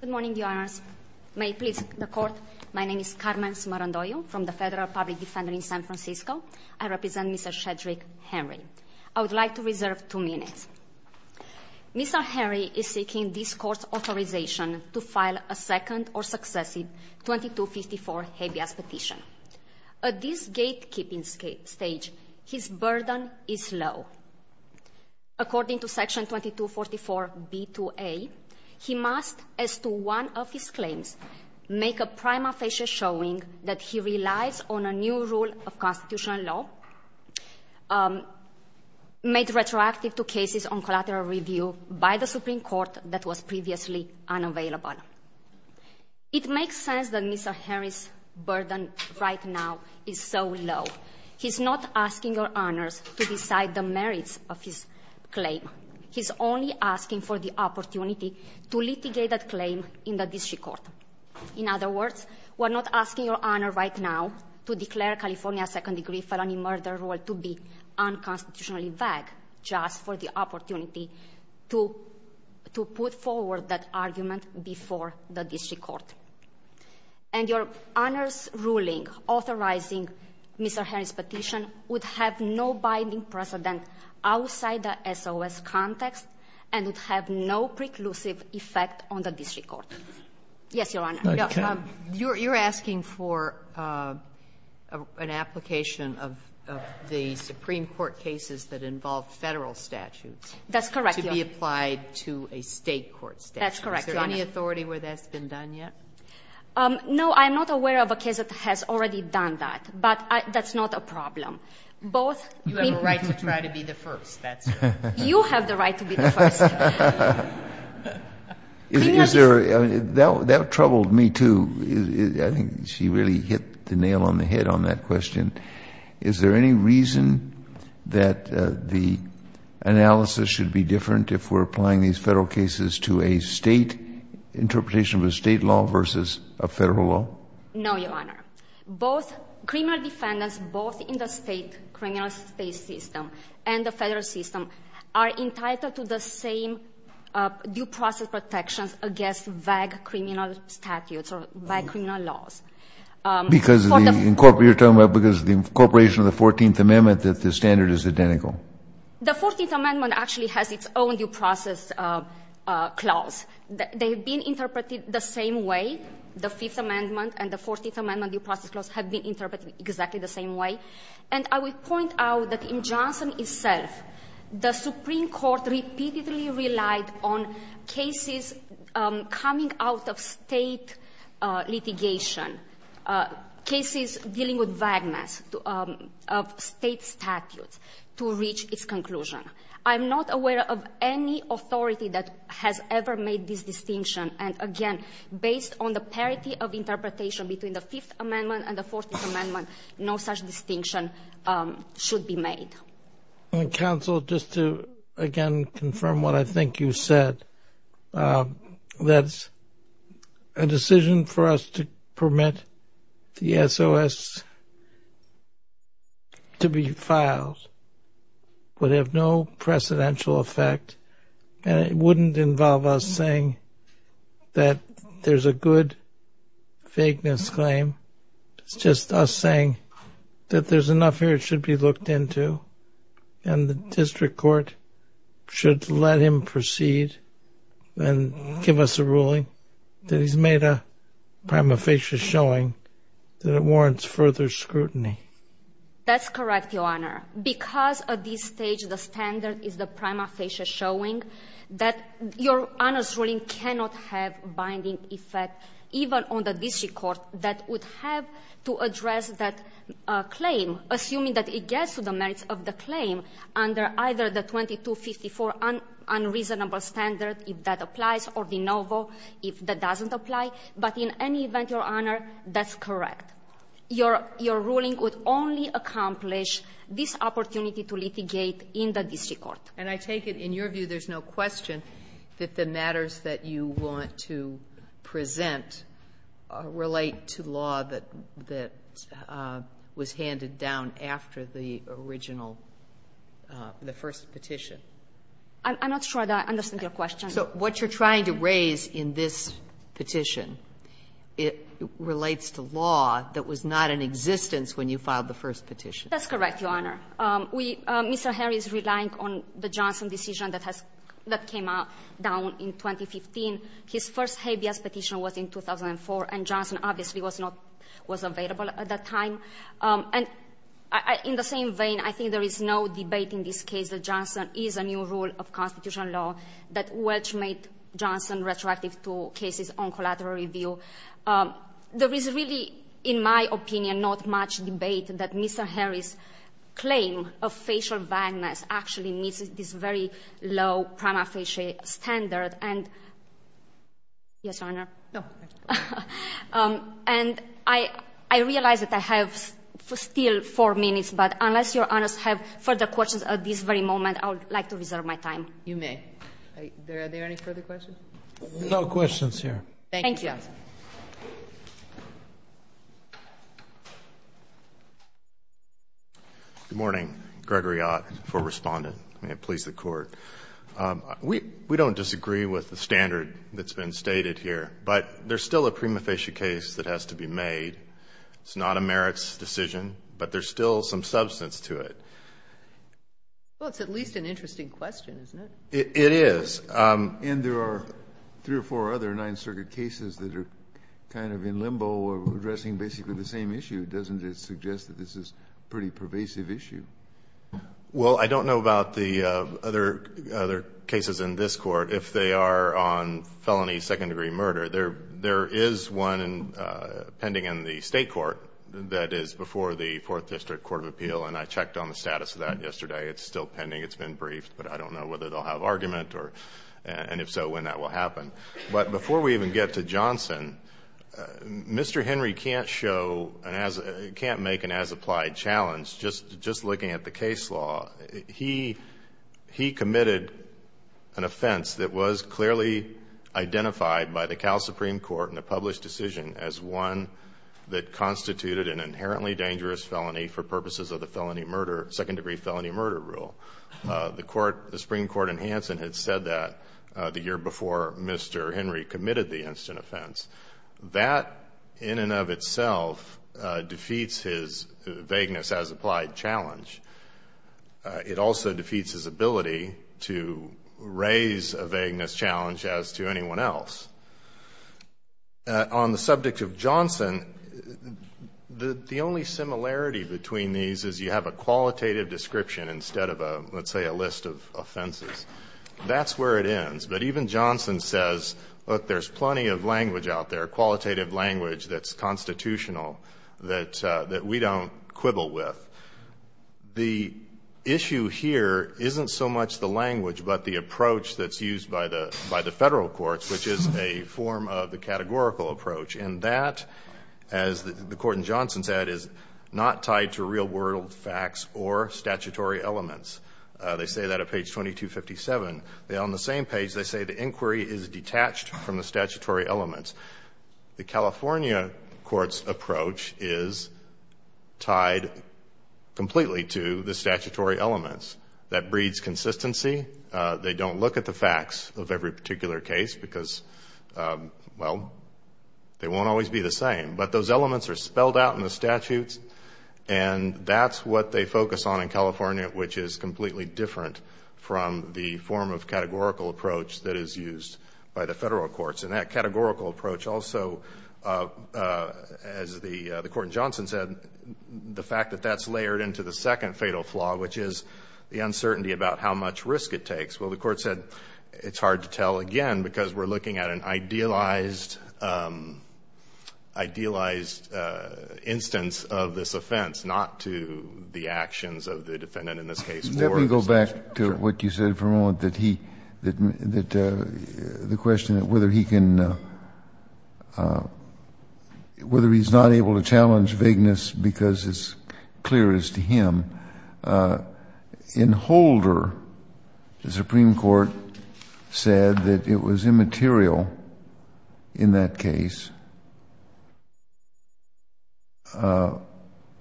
Good morning, Your Honors. May it please the Court, my name is Carmen Smarandoyo from the Federal Public Defender in San Francisco. I represent Mr. Shedrick Henry. I would like to reserve two minutes. Mr. Henry is seeking this Court's authorization to file a second or successive 2254 habeas petition. At this gatekeeping stage, his burden is low. According to Section 2244b-a, he must, as to one of his claims, make a prima facie showing that he relies on a new rule of constitutional law made retroactive to cases on collateral review by the Supreme Court that was previously unavailable. It makes sense that Mr. Henry's burden right now is so low. He's not asking Your Honors to decide the merits of his claim. He's only asking for the opportunity to litigate that claim in the district court. In other words, we're not asking Your Honor right now to declare California's second degree felony murder rule to be unconstitutionally vague just for the opportunity to put forward that argument before the district court. And Your Honor's ruling authorizing Mr. Henry's petition would have no binding precedent outside the SOS context and would have no preclusive effect on the district court. Yes, Your Honor. You're asking for an application of the Supreme Court cases that involve federal statutes to be applied to a state court statute. That's correct, Your Honor. Is there any authority where that's been done yet? No, I'm not aware of a case that has already done that, but that's not a problem. You have a right to try to be the first, that's right. You have the right to be the first. That troubled me, too. I think she really hit the nail on the head on that question. Is there any reason that the analysis should be different if we're applying these federal cases to a state interpretation of a state law versus a federal law? No, Your Honor. Both criminal defendants, both in the state, criminal state system and the federal system, are entitled to the same due process protections against vague criminal statutes or vague criminal laws. Because of the incorporation of the 14th Amendment that the standard is identical. The 14th Amendment actually has its own due process clause. They've been interpreted the same way. The Fifth Amendment and the 14th Amendment due process clause have been interpreted exactly the same way. And I would point out that in Johnson itself, the Supreme Court repeatedly relied on cases coming out of state litigation, cases dealing with vagueness of state statutes to reach its conclusion. I'm not aware of any authority that has ever made this distinction. And again, based on the parity of interpretation between the Fifth Amendment and the 14th Amendment, no such distinction should be made. Counsel, just to again confirm what I think you said, that a decision for us to permit the SOS to be filed would have no precedential effect. And it wouldn't involve us saying that there's a good vagueness claim. It's just us saying that there's enough here it should be looked into. And the district court should let him proceed and give us a ruling that he's made a prima facie showing that it warrants further scrutiny. That's correct, Your Honor. Because at this stage the standard is the prima facie showing that Your Honor's ruling cannot have binding effect even on the district court that would have to address that claim assuming that it gets to the merits of the claim under either the 2254 unreasonable standard if that applies or de novo if that doesn't apply. But in any event, Your Honor, that's correct. Your ruling would only accomplish this opportunity to litigate in the district court. And I take it in your view there's no question that the matters that you want to present relate to law that was handed down after the original, the first petition. I'm not sure that I understand your question. So what you're trying to raise in this petition, it relates to law that was not in existence when you filed the first petition. That's correct, Your Honor. Mr. Harry is relying on the Johnson decision that came down in 2015. His first habeas petition was in 2004 and Johnson obviously was not, was available at that time. And in the same vein, I think there is no debate in this case that Johnson is a new rule of constitutional law that Welch made Johnson retroactive to cases on collateral review. There is really, in my opinion, not much debate that Mr. Harry's claim of facial vagueness actually meets this very low prima facie standard. And, yes, Your Honor? No, thank you. And I realize that I have still four minutes, but unless Your Honors have further questions at this very moment, I would like to reserve my time. You may. Are there any further questions? No questions here. Thank you. Good morning. Gregory Ott for Respondent. May it please the Court. We don't disagree with the standard that's been stated here, but there's still a prima facie case that has to be made. It's not a merits decision, but there's still some substance to it. Well, it's at least an interesting question, isn't it? It is. And there are three or four other Ninth Circuit cases that are kind of in limbo or addressing basically the same issue. Doesn't it suggest that this is a pretty pervasive issue? Well, I don't know about the other cases in this Court. If they are on felony second-degree murder, there is one pending in the State Court that is before the Fourth District Court of Appeal, and I checked on the status of that yesterday. It's still pending. It's been briefed. But I don't know whether they'll have argument, and if so, when that will happen. But before we even get to Johnson, Mr. Henry can't make an as-applied challenge. Just looking at the case law, he committed an offense that was clearly identified by the Cal Supreme Court in a published decision as one that constituted an inherently dangerous felony for purposes of the second-degree felony murder rule. The Supreme Court in Hanson had said that the year before Mr. Henry committed the instant offense. That, in and of itself, defeats his vagueness as-applied challenge. It also defeats his ability to raise a vagueness challenge as to anyone else. On the subject of Johnson, the only similarity between these is you have a qualitative description instead of, let's say, a list of offenses. That's where it ends. But even Johnson says, look, there's plenty of language out there, qualitative language that's constitutional that we don't quibble with. The issue here isn't so much the language, but the approach that's used by the federal courts, which is a form of the categorical approach. And that, as the Court in Johnson said, is not tied to real-world facts or statutory elements. They say that at page 2257. On the same page, they say the inquiry is detached from the statutory elements. The California court's approach is tied completely to the statutory elements. That breeds consistency. They don't look at the facts of every particular case because, well, they won't always be the same. But those elements are spelled out in the statutes, and that's what they focus on in California, which is completely different from the form of categorical approach that is used by the federal courts. And that categorical approach also, as the Court in Johnson said, the fact that that's layered into the second fatal flaw, which is the uncertainty about how much risk it takes. Well, the Court said it's hard to tell again because we're looking at an idealized instance of this offense, not to the actions of the defendant in this case. Let me go back to what you said for a moment, that the question of whether he can, whether he's not able to challenge vagueness because it's clear as to him. In Holder, the Supreme Court said that it was immaterial in that case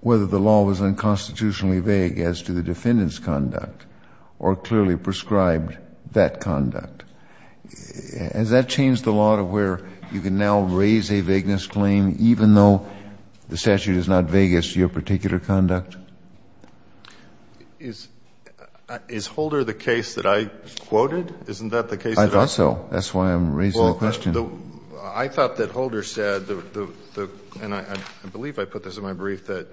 whether the law was unconstitutionally vague as to the defendant's conduct or clearly prescribed that conduct. Has that changed the law to where you can now raise a vagueness claim even though the statute is not vague as to your particular conduct? Is Holder the case that I quoted? Isn't that the case that I quoted? I thought so. That's why I'm raising the question. I thought that Holder said, and I believe I put this in my brief, that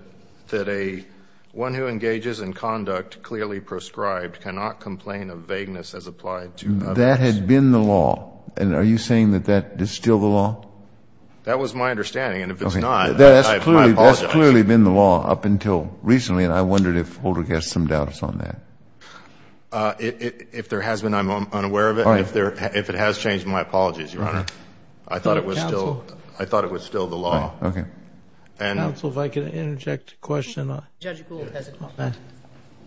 one who engages in conduct clearly prescribed cannot complain of vagueness as applied to others. That had been the law. And are you saying that that is still the law? That was my understanding. And if it's not, I apologize. That's clearly been the law up until recently. And I wondered if Holder gets some doubts on that. If it has changed, my apologies, Your Honor. I thought it was still the law. Counsel, if I could interject a question.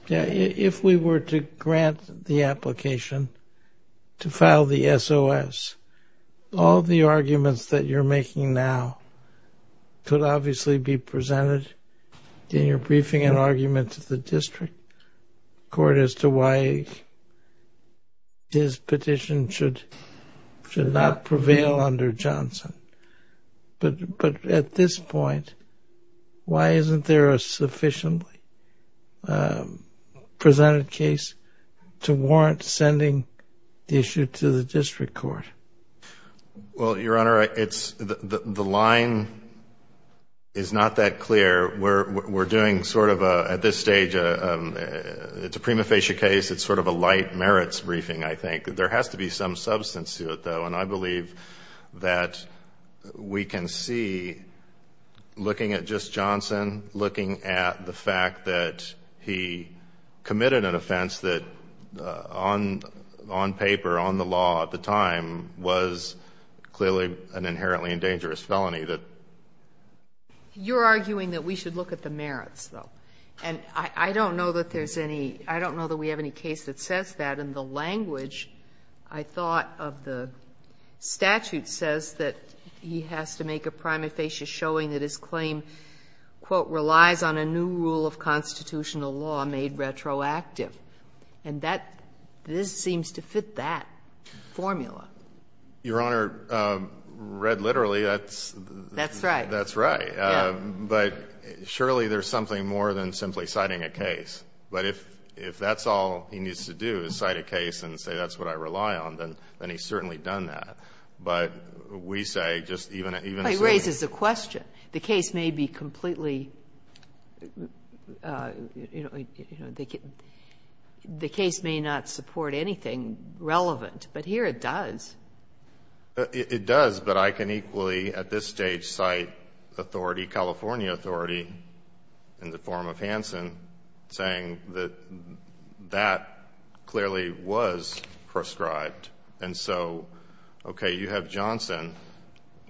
If we were to grant the application to file the SOS, all the arguments that you're making now could obviously be presented in your briefing and argument to the district court as to why his petition should should not prevail under Johnson. But at this point, why isn't there a sufficiently presented case to warrant sending the issue to the district court? Well, Your Honor, the line is not that clear. We're doing sort of, at this stage, it's a prima facie case. It's sort of a light merits briefing, I think. There has to be some substance to it, though. And I believe that we can see, looking at just Johnson, looking at the fact that he committed an offense that on paper, on the law at the time, was clearly an inherently dangerous felony. You're arguing that we should look at the merits, though. And I don't know that there's any, I don't know that we have any case that says that. And the language, I thought, of the statute says that he has to make a prima facie showing that his claim, quote, relies on a new rule of constitutional law made retroactive. And this seems to fit that formula. Your Honor, read literally, that's... That's right. That's right. But surely there's something more than simply citing a case. But if that's all he needs to do, is cite a case and say that's what I rely on, then he's certainly done that. But we say just even... But it raises a question. The case may be completely... The case may not support anything relevant. But here it does. It does, but I can equally at this stage cite authority, California authority, in the form of Hanson, saying that that clearly was proscribed. And so, okay, you have Johnson.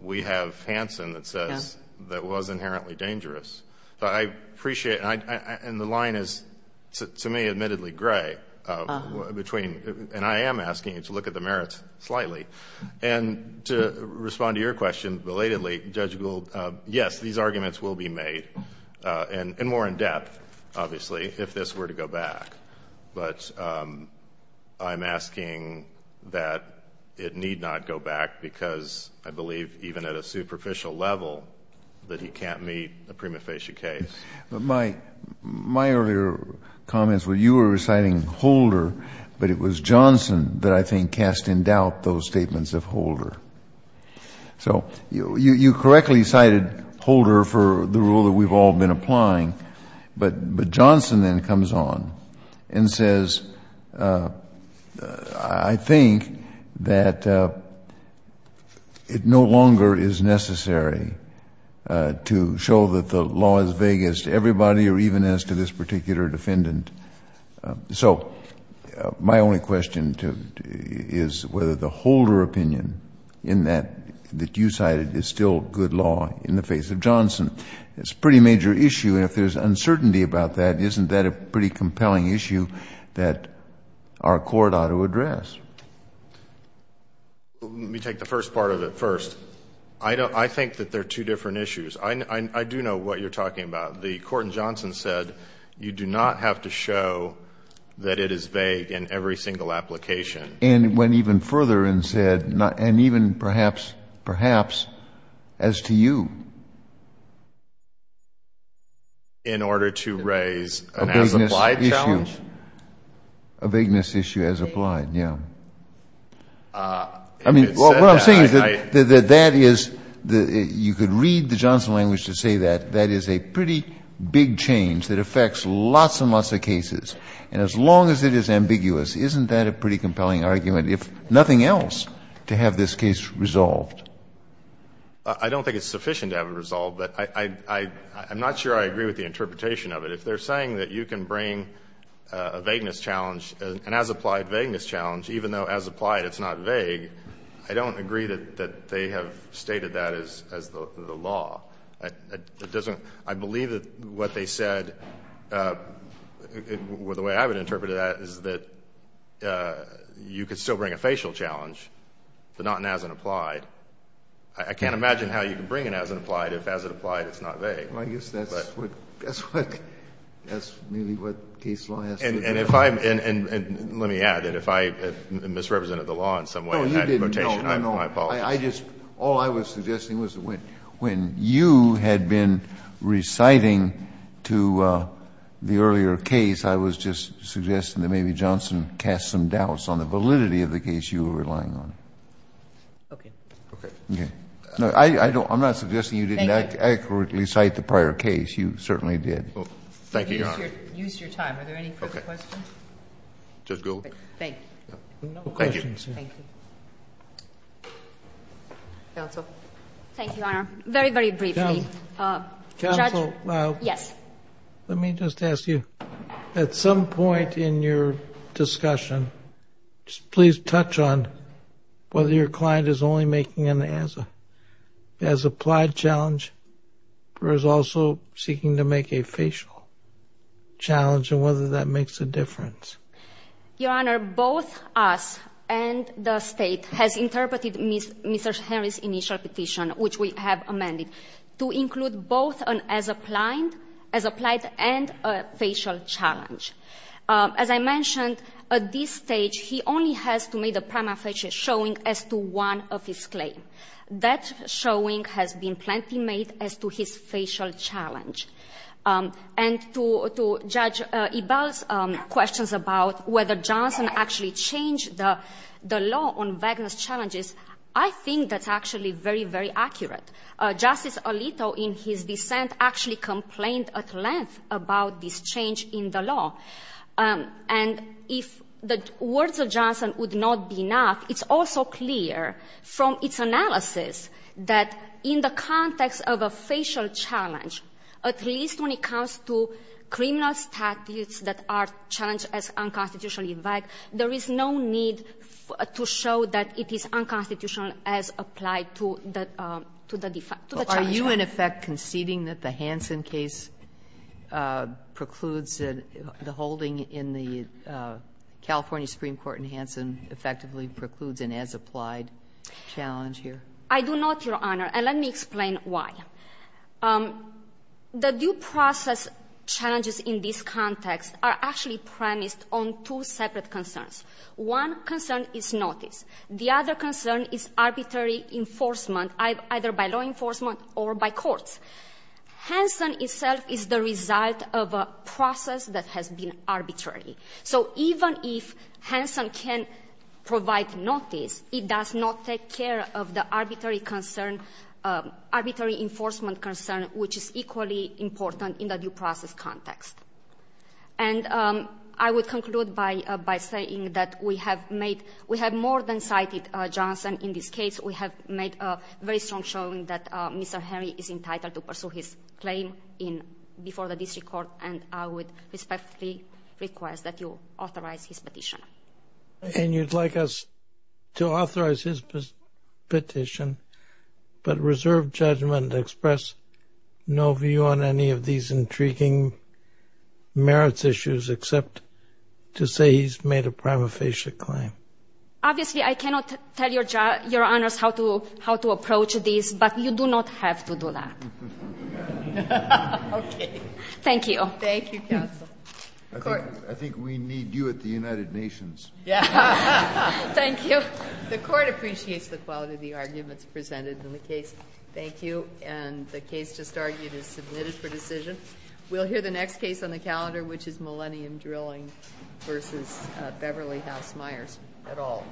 We have Hanson that says that was inherently dangerous. So I appreciate... And the line is, to me, admittedly gray between... And I am asking you to look at the merits slightly. And to respond to your question, belatedly, Judge Gould, yes, these arguments will be made in more in-depth, obviously, if this were to go back. But I'm asking that it need not go back because I believe even at a superficial level that he can't meet a prima facie case. My earlier comments were you were citing Holder, but it was Johnson that I think cast in doubt those statements of Holder. So you correctly cited Holder for the rule that we've all been applying. But Johnson then comes on and says, I think that it no longer is necessary to show that the law is vague as to everybody or even as to this particular defendant. So my only question is whether the Holder opinion that you cited is still good law in the face of Johnson. It's a pretty major issue. And if there's uncertainty about that, isn't that a pretty compelling issue that our court ought to address? Let me take the first part of it first. I think that they're two different issues. I do know what you're talking about. The court in Johnson said you do not have to show that it is vague in every single application. And went even further and said, and even perhaps as to you. In order to raise an as-applied challenge? A vagueness issue. A vagueness issue as applied, yeah. I mean, what I'm saying is that that is, you could read the Johnson language to say that that is a pretty big change that affects lots and lots of cases. And as long as it is ambiguous, isn't that a pretty compelling argument? If nothing else, to have this case resolved. I don't think it's sufficient to have it resolved, but I'm not sure I agree with the interpretation of it. If they're saying that you can bring a vagueness challenge, an as-applied vagueness challenge, even though as-applied it's not vague, I don't agree that they have stated that as the law. I believe that what they said, the way I would interpret that, is that you could still bring a facial challenge, but not an as-and-applied. I can't imagine how you can bring an as-and-applied if as-and-applied it's not vague. Well, I guess that's what, that's really what case law has to do. And if I, and let me add, if I misrepresented the law in some way, and had a quotation, I apologize. No, you didn't, no, no. All I was suggesting was that when you had been reciting to the earlier case, I was just suggesting that maybe Johnson cast some doubts on the validity of the case you were relying on. Okay. Okay. No, I don't, I'm not suggesting you didn't accurately cite the prior case. You certainly did. Thank you, Your Honor. Use your time. Are there any further questions? Judge Goldberg. Thank you. No questions. Thank you. Counsel. Thank you, Your Honor. Very, very briefly. Judge. Counsel. Yes. Let me just ask you, at some point in your discussion, just please touch on whether your client is only making an as-applied challenge, or is also seeking to make a facial challenge, and whether that makes a difference. Your Honor, both us and the State has interpreted Mr. Henry's initial petition, which we have amended, to include both an as-applied and a facial challenge. As I mentioned, at this stage, he only has to make a prima facie showing as to one of his claims. That showing has been plenty made as to his facial challenge. And to Judge Ebell's questions about whether Johnson actually changed the law on vagueness challenges, I think that's actually very, very accurate. Justice Alito, in his dissent, actually complained at length about this change in the law. And if the words of Johnson would not be enough, it's also clear from its analysis that in the context of a facial challenge, at least when it comes to criminal statutes that are challenged as unconstitutionally vague, there is no need to show that it is unconstitutional as applied to the challenge. Are you in effect conceding that the Hansen case precludes the holding in the California Supreme Court in Hansen effectively precludes an as-applied challenge here? I do not, Your Honor, and let me explain why. The due process challenges in this context are actually premised on two separate concerns. One concern is notice. The other concern is arbitrary enforcement, either by law enforcement or by courts. Hansen itself is the result of a process that has been arbitrary. So even if Hansen can provide notice, it does not take care of the arbitrary enforcement concern, which is equally important in the due process context. And I would conclude by saying that we have more than cited Johnson in this case. We have made a very strong showing that Mr. Henry is entitled to pursue his claim before the district court, and I would respectfully request that you authorize his petition. And you'd like us to authorize his petition, but reserve judgment to express no view on any of these intriguing merits issues, except to say he's made a prima facie claim? Obviously, I cannot tell Your Honors how to approach this, but you do not have to do that. Okay. Thank you. Thank you, counsel. I think we need you at the United Nations. Thank you. The court appreciates the quality of the arguments presented in the case. Thank you. And the case just argued is submitted for decision. We'll hear the next case on the calendar, which is Millennium Drilling versus Beverly House Meyers. At all.